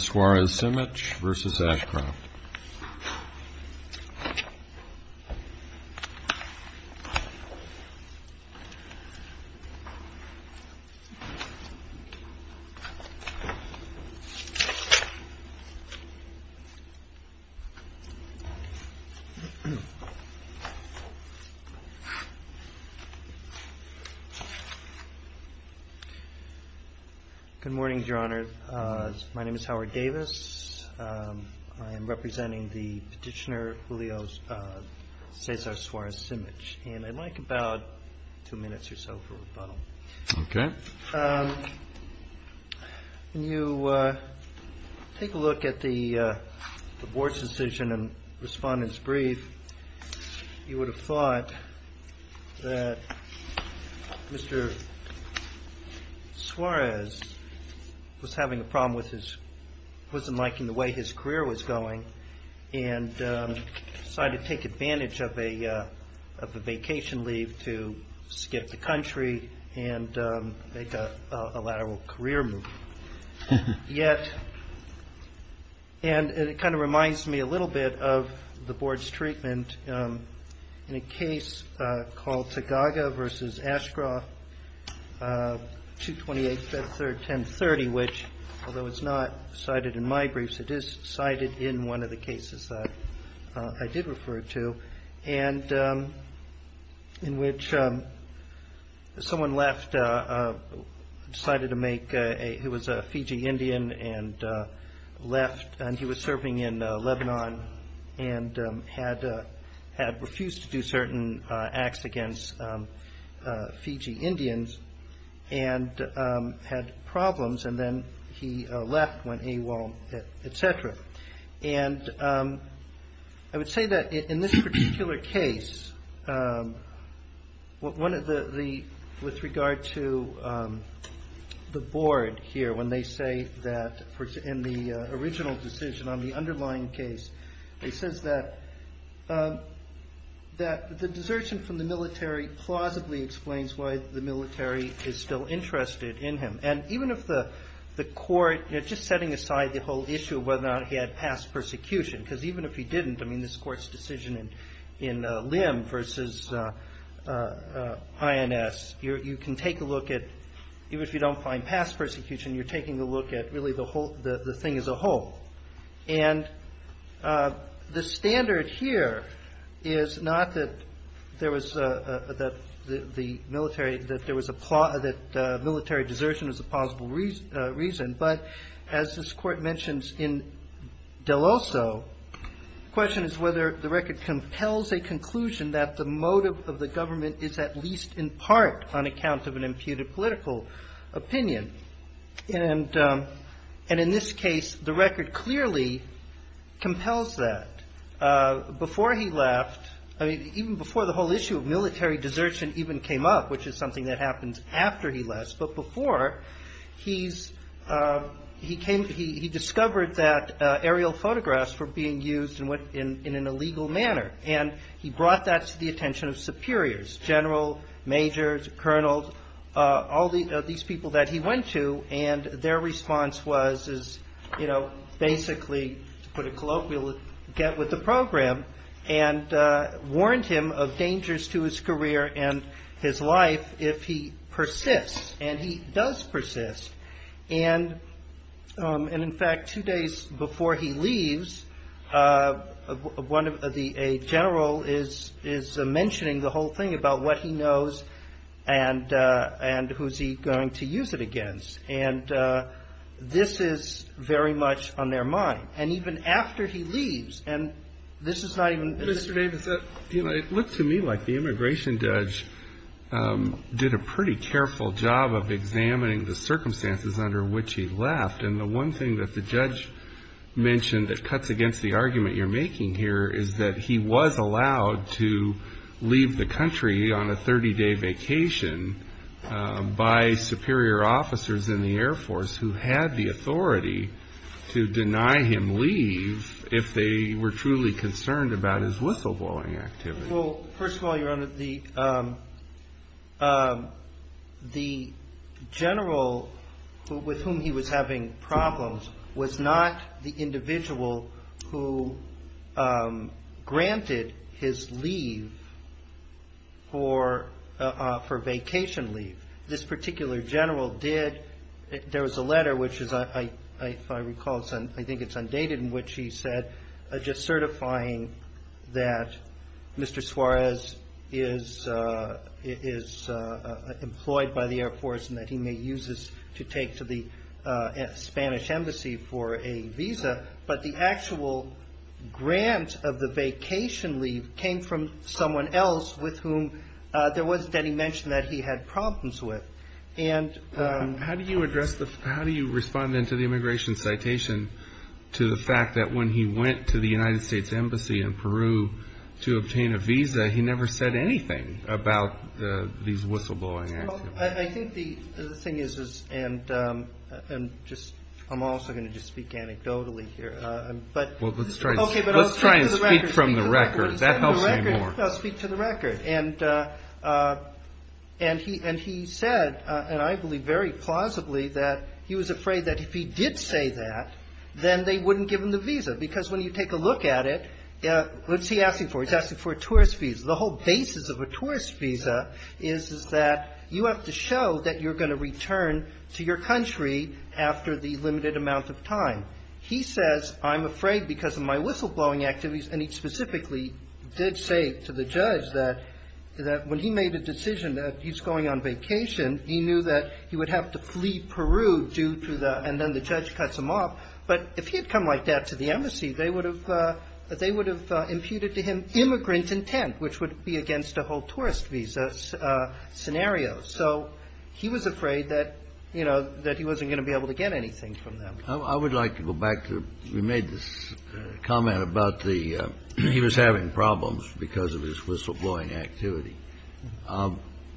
SUAREZ-SIMICH v. ASHCROFT Good morning, Your Honor. My name is Howard Davis. I am representing the Supreme Court representing the Petitioner, Julio Cesar Suarez-Simich. I'd like about two minutes or so for rebuttal. When you take a look at the Board's decision and Respondent's brief, you would have thought that Mr. Suarez was having a problem with his, wasn't liking the way his career was going, and decided to take advantage of a vacation leave to skip the country and make a lateral career move. And it kind of reminds me a little bit of the Board's treatment in a case called Tagaga v. Ashcroft 228-1030, which, although it's not cited in my briefs, it is cited in one of the cases that I did refer to, in which someone left, decided to make, he was a Fiji Indian and left, and he was serving in Lebanon and had refused to do certain acts against Fiji Indians and had problems, and then he left, went AWOL, etc. And I would say that in this particular case, with regard to the Board here, when they say that, in the original decision on the underlying case, it says that the desertion from the military plausibly explains why the military is still interested in him. And even if the court, just setting aside the whole issue of whether or not he had past persecution, because even if he didn't, I mean, this Court's decision in Lim v. INS, you can take a look at, even if you don't find past persecution, you're taking a look at really the whole, the thing as a whole. And the standard here is not that there was a, that the military, that there was a, that military desertion was a plausible reason, but as this Court mentions in Deloso, the question is whether the record compels a conclusion that the motive of the government is at least in part on account of an imputed political opinion. And in this case, the record clearly compels that. Before he left, I mean, even before the whole issue of military desertion even came up, which is something that happens after he left, but before, he's, he came, he discovered that aerial photographs were being used in an illegal manner, and he brought that to the attention of superiors, general, majors, colonels, all these people that he went to, and their response was, is, you know, basically, to put it colloquially, get with the program, and warned him of dangers to his career and his life if he persists, and he does persist. And in fact, two days before he leaves, one of the, a general is, is mentioning the whole thing about what he knows and, and who's he going to use it against. And this is very much on their mind. And even after he leaves, and this is not even Mr. Davis. You know, it looked to me like the immigration judge did a pretty careful job of examining the circumstances under which he left, and the one thing that the judge mentioned that cuts against the argument you're making here is that he was allowed to leave the country on a 30-day vacation by superior officers in the Air Force who had the authority to deny him leave if they were truly concerned about his whistleblowing activity. Well, first of all, Your Honor, the, the general with whom he was having problems was not the individual who granted his leave for, for vacation leave. This particular general did, there was a letter which is, if I recall, I think it's undated, in which he said, just certifying that Mr. Suarez is, is employed by the Air Force and that he may use this to take to the Spanish embassy for a visa. But the actual grant of the vacation leave came from someone else with whom there wasn't any mention that he had problems with. How do you address the, how do you respond then to the immigration citation to the fact that when he went to the United States embassy in Peru to obtain a visa, he never said anything about the, these whistleblowing activities? Well, I think the, the thing is, is, and, and just, I'm also going to just speak anecdotally here. Well, let's try, let's try and speak from the record. That helps me more. I'll speak to the record. And, and he, and he said, and I believe very plausibly that he was afraid that if he did say that, then they wouldn't give him the visa. Because when you take a look at it, what's he asking for? He's asking for a tourist visa. The whole basis of a tourist visa is, is that you have to show that you're going to return to your country after the limited amount of time. He says, I'm afraid because of my whistleblowing activities. And he specifically did say to the judge that, that when he made a decision that he's going on vacation, he knew that he would have to flee Peru due to the, and then the judge cuts him off. But if he had come like that to the embassy, they would have, they would have imputed to him immigrant intent, which would be against a whole tourist visa scenario. So he was afraid that, you know, that he wasn't going to be able to get anything from them. I would like to go back to, we made this comment about the, he was having problems because of his whistleblowing activity.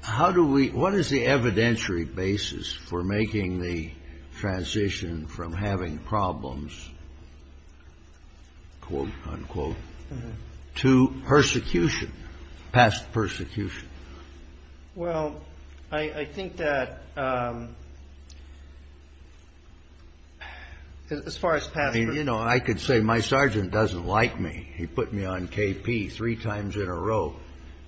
How do we, what is the evidentiary basis for making the transition from having problems, quote, unquote, to persecution, past persecution? Well, I think that as far as past persecution. I mean, you know, I could say my sergeant doesn't like me. He put me on KP three times in a row.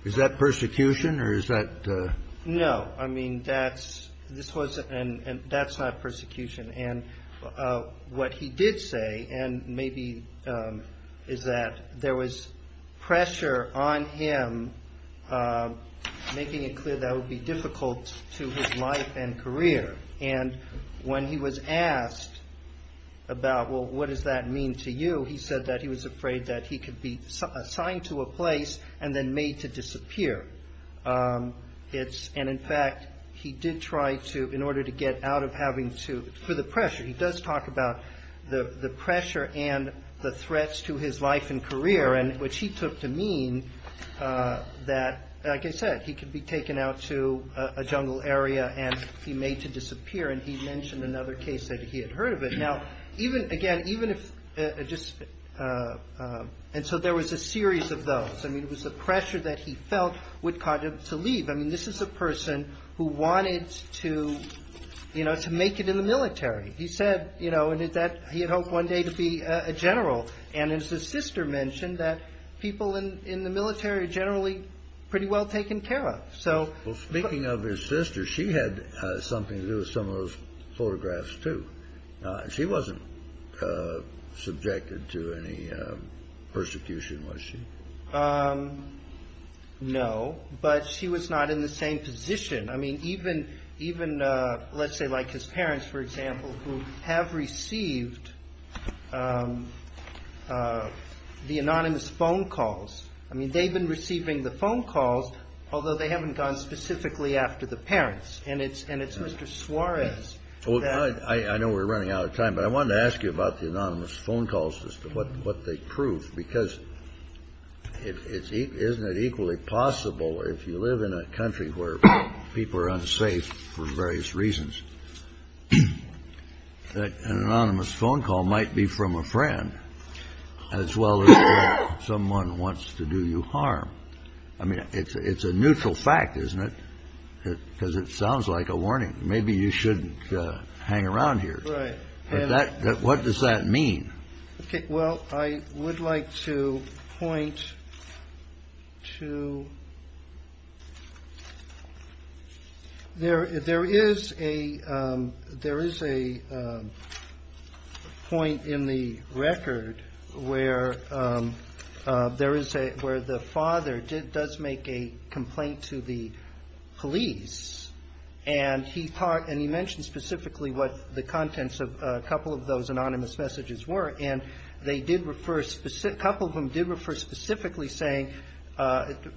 Is that persecution or is that? No, I mean, that's, this wasn't, and that's not persecution. And what he did say, and maybe is that there was pressure on him, making it clear that would be difficult to his life and career. And when he was asked about, well, what does that mean to you? He said that he was afraid that he could be assigned to a place and then made to disappear. It's, and in fact, he did try to, in order to get out of having to, for the pressure, he does talk about the pressure and the threats to his life and career, and which he took to mean that, like I said, he could be taken out to a jungle area and he made to disappear. And he mentioned another case that he had heard of it. Now, even again, even if just, and so there was a series of those. I mean, it was the pressure that he felt would cause him to leave. I mean, this is a person who wanted to, you know, to make it in the military. He said, you know, and that he had hoped one day to be a general. And as his sister mentioned that people in the military generally pretty well taken care of. So speaking of his sister, she had something to do with some of those photographs, too. She wasn't subjected to any persecution, was she? No, but she was not in the same position. I mean, even let's say like his parents, for example, who have received the anonymous phone calls. I mean, they've been receiving the phone calls, although they haven't gone specifically after the parents. And it's Mr. Suarez. Well, I know we're running out of time, but I wanted to ask you about the anonymous phone call system, what they prove. Because isn't it equally possible if you live in a country where people are unsafe for various reasons, that an anonymous phone call might be from a friend as well as someone wants to do you harm? I mean, it's a neutral fact, isn't it? Because it sounds like a warning. Maybe you shouldn't hang around here. Right. What does that mean? Well, I would like to point to there is a point in the record where the father does make a complaint to the police and he mentioned specifically what the contents of a couple of those anonymous messages were. And they did refer, a couple of them did refer specifically saying,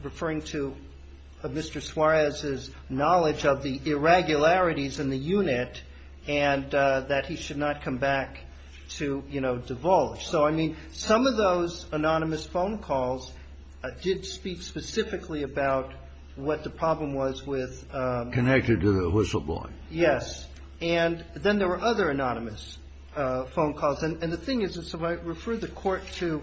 referring to Mr. Suarez's knowledge of the irregularities in the unit and that he should not come back to, you know, divulge. So, I mean, some of those anonymous phone calls did speak specifically about what the problem was with. Connected to the whistleblowing. Yes. And then there were other anonymous phone calls. And the thing is, if I refer the Court to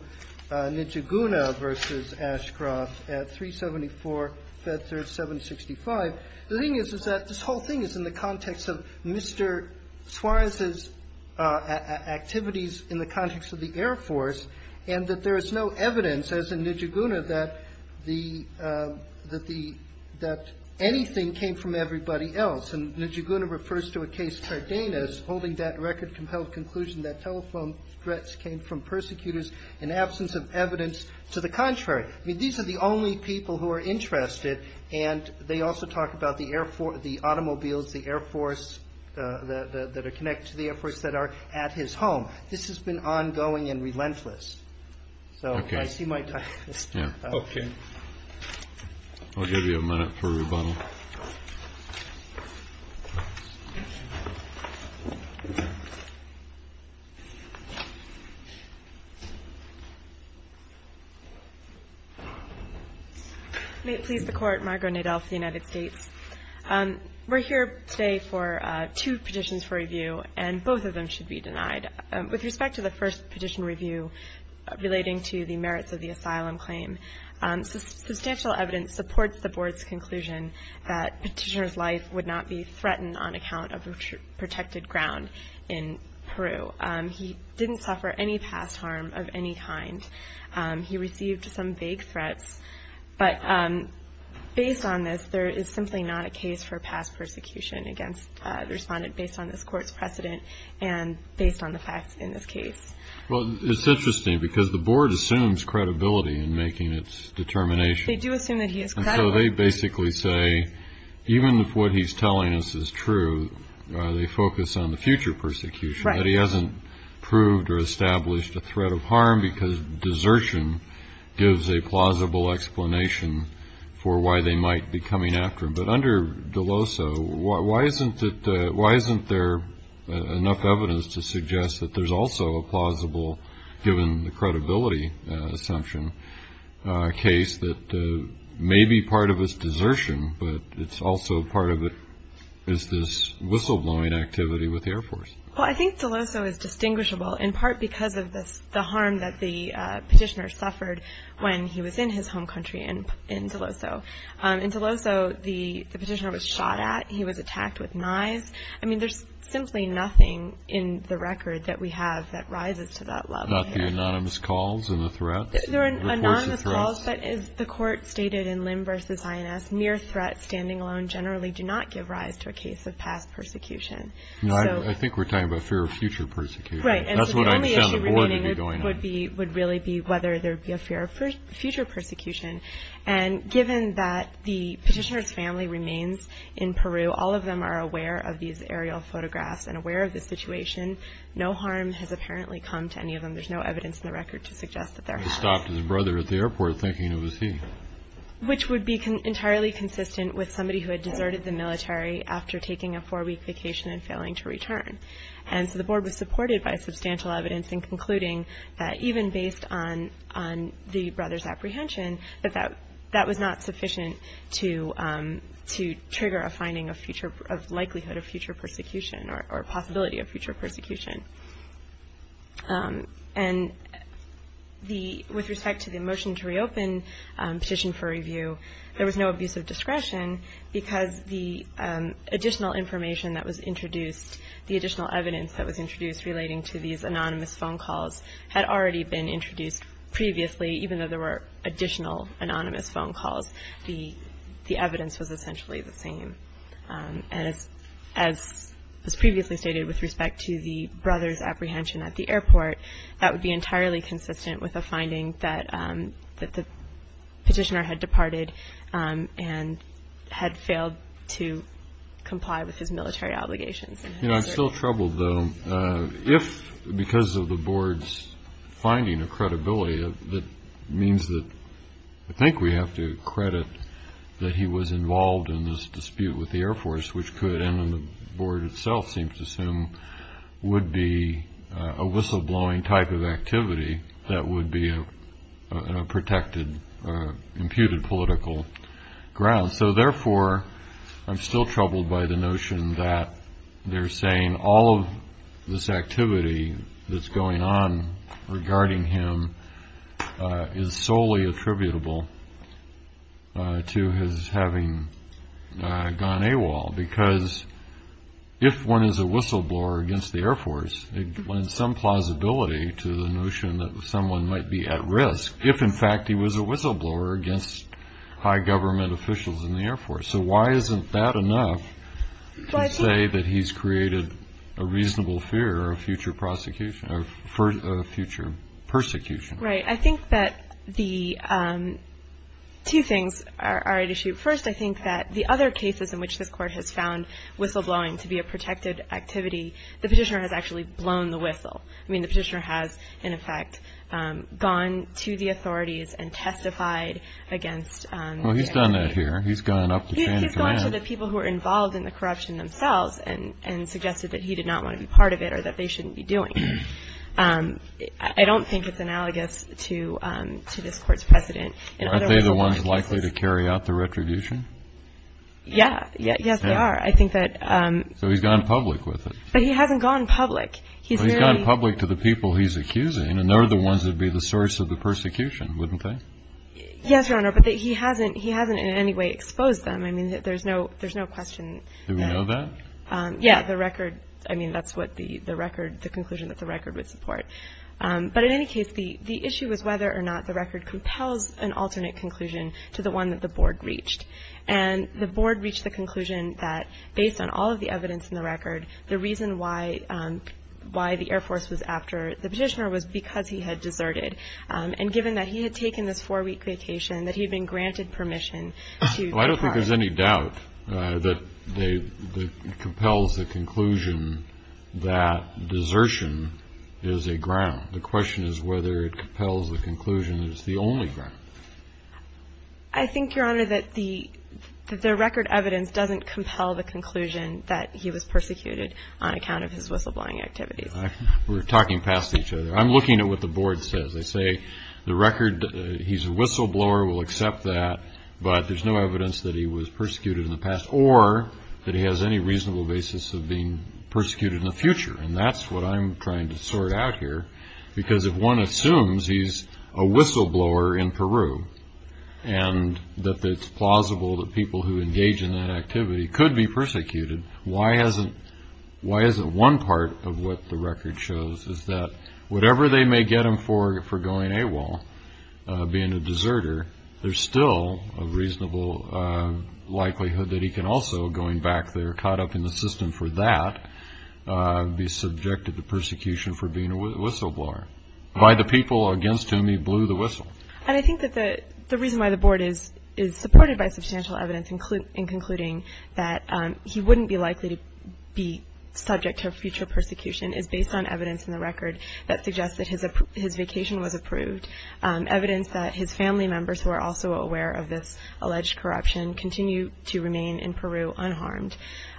Nijiguna v. Ashcroft at 374 Fetzer 765, the thing is, is that this whole thing is in the context of Mr. Suarez's activities in the context of the Air Force and that there is no evidence, as in Nijiguna, that the, that the, that anything came from everybody else. And Nijiguna refers to a case, Cardenas, holding that record compelled conclusion that telephone threats came from persecutors in absence of evidence to the contrary. I mean, these are the only people who are interested. And they also talk about the Air Force, the automobiles, the Air Force that are connected to the Air Force that are at his home. This has been ongoing and relentless. So, I see my time is up. Okay. I'll give you a minute for rebuttal. May it please the Court. Margo Nadell from the United States. We're here today for two petitions for review, and both of them should be denied. With respect to the first petition review relating to the merits of the asylum claim, substantial evidence supports the Board's conclusion that Petitioner's life would not be threatened on account of a protected ground in Peru. He didn't suffer any past harm of any kind. He received some vague threats. But based on this, there is simply not a case for past persecution against the respondent based on this Court's precedent and based on the facts in this case. Well, it's interesting because the Board assumes credibility in making its determination. They do assume that he is credible. And so they basically say, even if what he's telling us is true, they focus on the future persecution, that he hasn't proved or established a threat of harm because desertion gives a plausible explanation for why they might be coming after him. But under Deloso, why isn't there enough evidence to suggest that there's also a plausible, given the credibility assumption, case that may be part of his desertion, but it's also part of this whistleblowing activity with the Air Force? Well, I think Deloso is distinguishable in part because of the harm that the Petitioner suffered when he was in his home country in Deloso. In Deloso, the Petitioner was shot at. He was attacked with knives. I mean, there's simply nothing in the record that we have that rises to that level here. Not the anonymous calls and the threats? There are anonymous calls, but as the Court stated in Lim v. INS, mere threats standing alone generally do not give rise to a case of past persecution. I think we're talking about fear of future persecution. Right, and so the only issue remaining would really be whether there would be a fear of future persecution. And given that the Petitioner's family remains in Peru, all of them are aware of these aerial photographs and aware of the situation, no harm has apparently come to any of them. There's no evidence in the record to suggest that there has. He stopped his brother at the airport thinking it was he. Which would be entirely consistent with somebody who had deserted the military after taking a four-week vacation and failing to return. And so the Board was supported by substantial evidence in concluding that even based on the brother's apprehension, that that was not sufficient to trigger a finding of likelihood of future persecution or possibility of future persecution. And with respect to the motion to reopen Petition for Review, there was no abuse of discretion because the additional information that was introduced, the additional evidence that was introduced relating to these anonymous phone calls had already been introduced previously. Even though there were additional anonymous phone calls, the evidence was essentially the same. And as previously stated with respect to the brother's apprehension at the airport, that would be entirely consistent with a finding that the Petitioner had departed and had failed to comply with his military obligations. You know, I'm still troubled, though. If because of the Board's finding of credibility, that means that I think we have to credit that he was involved in this dispute with the Air Force, which could, and the Board itself seems to assume, would be a whistleblowing type of activity that would be a protected, imputed political ground. So therefore, I'm still troubled by the notion that they're saying all of this activity that's going on regarding him is solely attributable to his having gone AWOL. Because if one is a whistleblower against the Air Force, it lends some plausibility to the notion that someone might be at risk if, in fact, he was a whistleblower against high government officials in the Air Force. So why isn't that enough to say that he's created a reasonable fear of future prosecution, of future persecution? Right. I think that the two things are at issue. First, I think that the other cases in which this Court has found whistleblowing to be a protected activity, the Petitioner has actually blown the whistle. I mean, the Petitioner has, in effect, gone to the authorities and testified against the Air Force. Well, he's done that here. He's gone up the chain of command. He's gone to the people who are involved in the corruption themselves and suggested that he did not want to be part of it or that they shouldn't be doing it. I don't think it's analogous to this Court's precedent in other whistleblowing cases. Aren't they the ones likely to carry out the retribution? Yeah. Yes, they are. I think that – So he's gone public with it. But he hasn't gone public. He's merely – But he's gone public to the people he's accusing, and they're the ones that would be the source of the persecution, wouldn't they? Yes, Your Honor. But he hasn't in any way exposed them. I mean, there's no question. Do we know that? Yeah. The record – I mean, that's what the record – the conclusion that the record would support. But in any case, the issue is whether or not the record compels an alternate conclusion to the one that the Board reached. And the Board reached the conclusion that based on all of the evidence in the record, the reason why the Air Force was after the Petitioner was because he had deserted. And given that he had taken this four-week vacation, that he had been granted permission to – Well, I don't think there's any doubt that it compels the conclusion that desertion is a ground. The question is whether it compels the conclusion that it's the only ground. I think, Your Honor, that the record evidence doesn't compel the conclusion that he was persecuted on account of his whistleblowing activities. We're talking past each other. I'm looking at what the Board says. They say the record – he's a whistleblower. We'll accept that. But there's no evidence that he was persecuted in the past or that he has any reasonable basis of being persecuted in the future. And that's what I'm trying to sort out here. Because if one assumes he's a whistleblower in Peru why isn't one part of what the record shows is that whatever they may get him for going AWOL, being a deserter, there's still a reasonable likelihood that he can also, going back there, caught up in the system for that, be subjected to persecution for being a whistleblower. By the people against him, he blew the whistle. And I think that the reason why the Board is supported by substantial evidence in concluding that he wouldn't be likely to be subject to a future persecution is based on evidence in the record that suggests that his vacation was approved, evidence that his family members, who are also aware of this alleged corruption, continue to remain in Peru unharmed,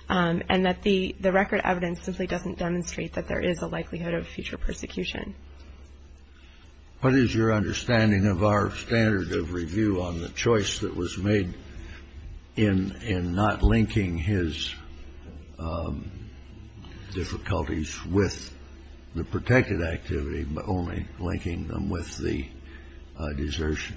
and that the record evidence simply doesn't demonstrate that there is a likelihood of future persecution. What is your understanding of our standard of review on the choice that was made in not linking his difficulties with the protected activity, but only linking them with the desertion?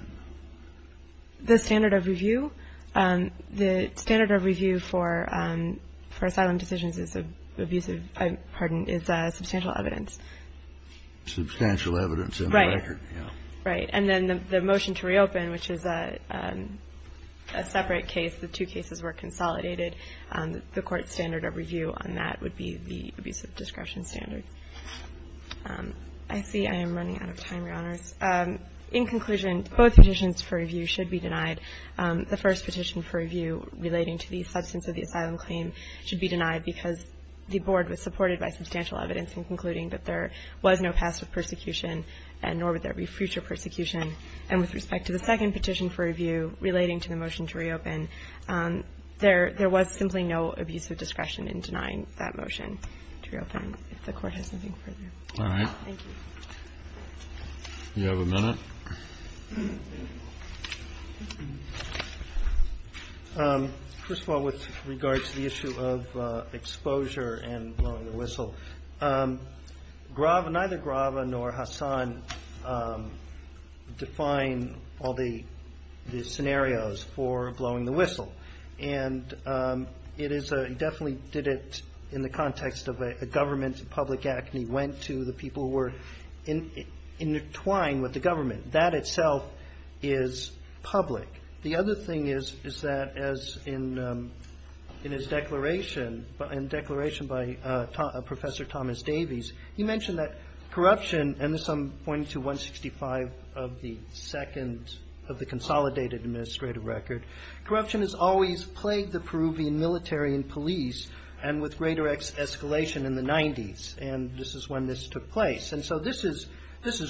The standard of review? The standard of review for asylum decisions is abusive, pardon, is substantial evidence. Substantial evidence in the record. Right. Right. And then the motion to reopen, which is a separate case, the two cases were consolidated, the Court's standard of review on that would be the abusive discretion standard. I see I am running out of time, Your Honors. In conclusion, both petitions for review should be denied. The first petition for review relating to the substance of the asylum claim should be denied because the Board was supported by substantial evidence in concluding that there was no past with persecution and nor would there be future persecution. And with respect to the second petition for review relating to the motion to reopen, there was simply no abusive discretion in denying that motion to reopen, if the Court has something further. All right. Thank you. Do you have a minute? Thank you. First of all, with regard to the issue of exposure and blowing the whistle, neither Grave nor Hassan define all the scenarios for blowing the whistle. And it is a definitely did it in the context of a government public act and he went to the people who were intertwined with the government. That itself is public. The other thing is that as in his declaration, in a declaration by Professor Thomas Davies, he mentioned that corruption, and this I'm pointing to 165 of the second, of the consolidated administrative record, corruption has always plagued the Peruvian military and police and with greater escalation in the 90s. And this is when this took place. And so this is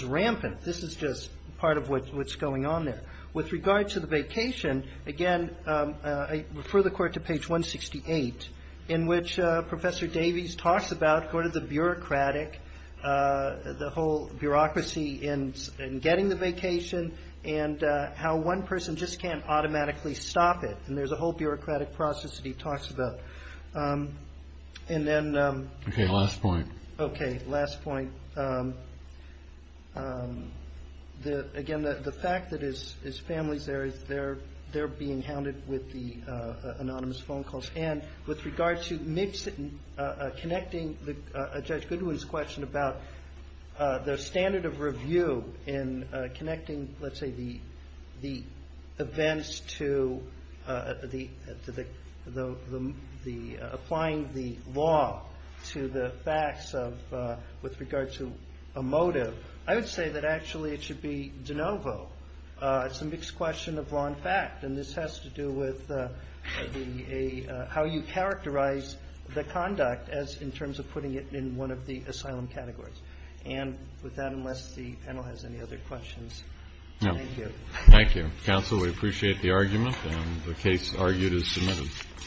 rampant. This is just part of what's going on there. With regard to the vacation, again, I refer the Court to page 168, in which Professor Davies talks about the whole bureaucracy in getting the vacation and how one person just can't automatically stop it. And there's a whole bureaucratic process that he talks about. And then. Okay, last point. Okay, last point. Again, the fact that his family's there, they're being hounded with the anonymous phone calls. And with regard to connecting Judge Goodwin's question about the standard of review and connecting, let's say, the events to applying the law to the facts with regard to a motive, I would say that actually it should be de novo. It's a mixed question of law and fact. And this has to do with how you characterize the conduct in terms of putting it in one of the asylum categories. And with that, unless the panel has any other questions, thank you. Thank you. Counsel, we appreciate the argument. And the case argued is submitted.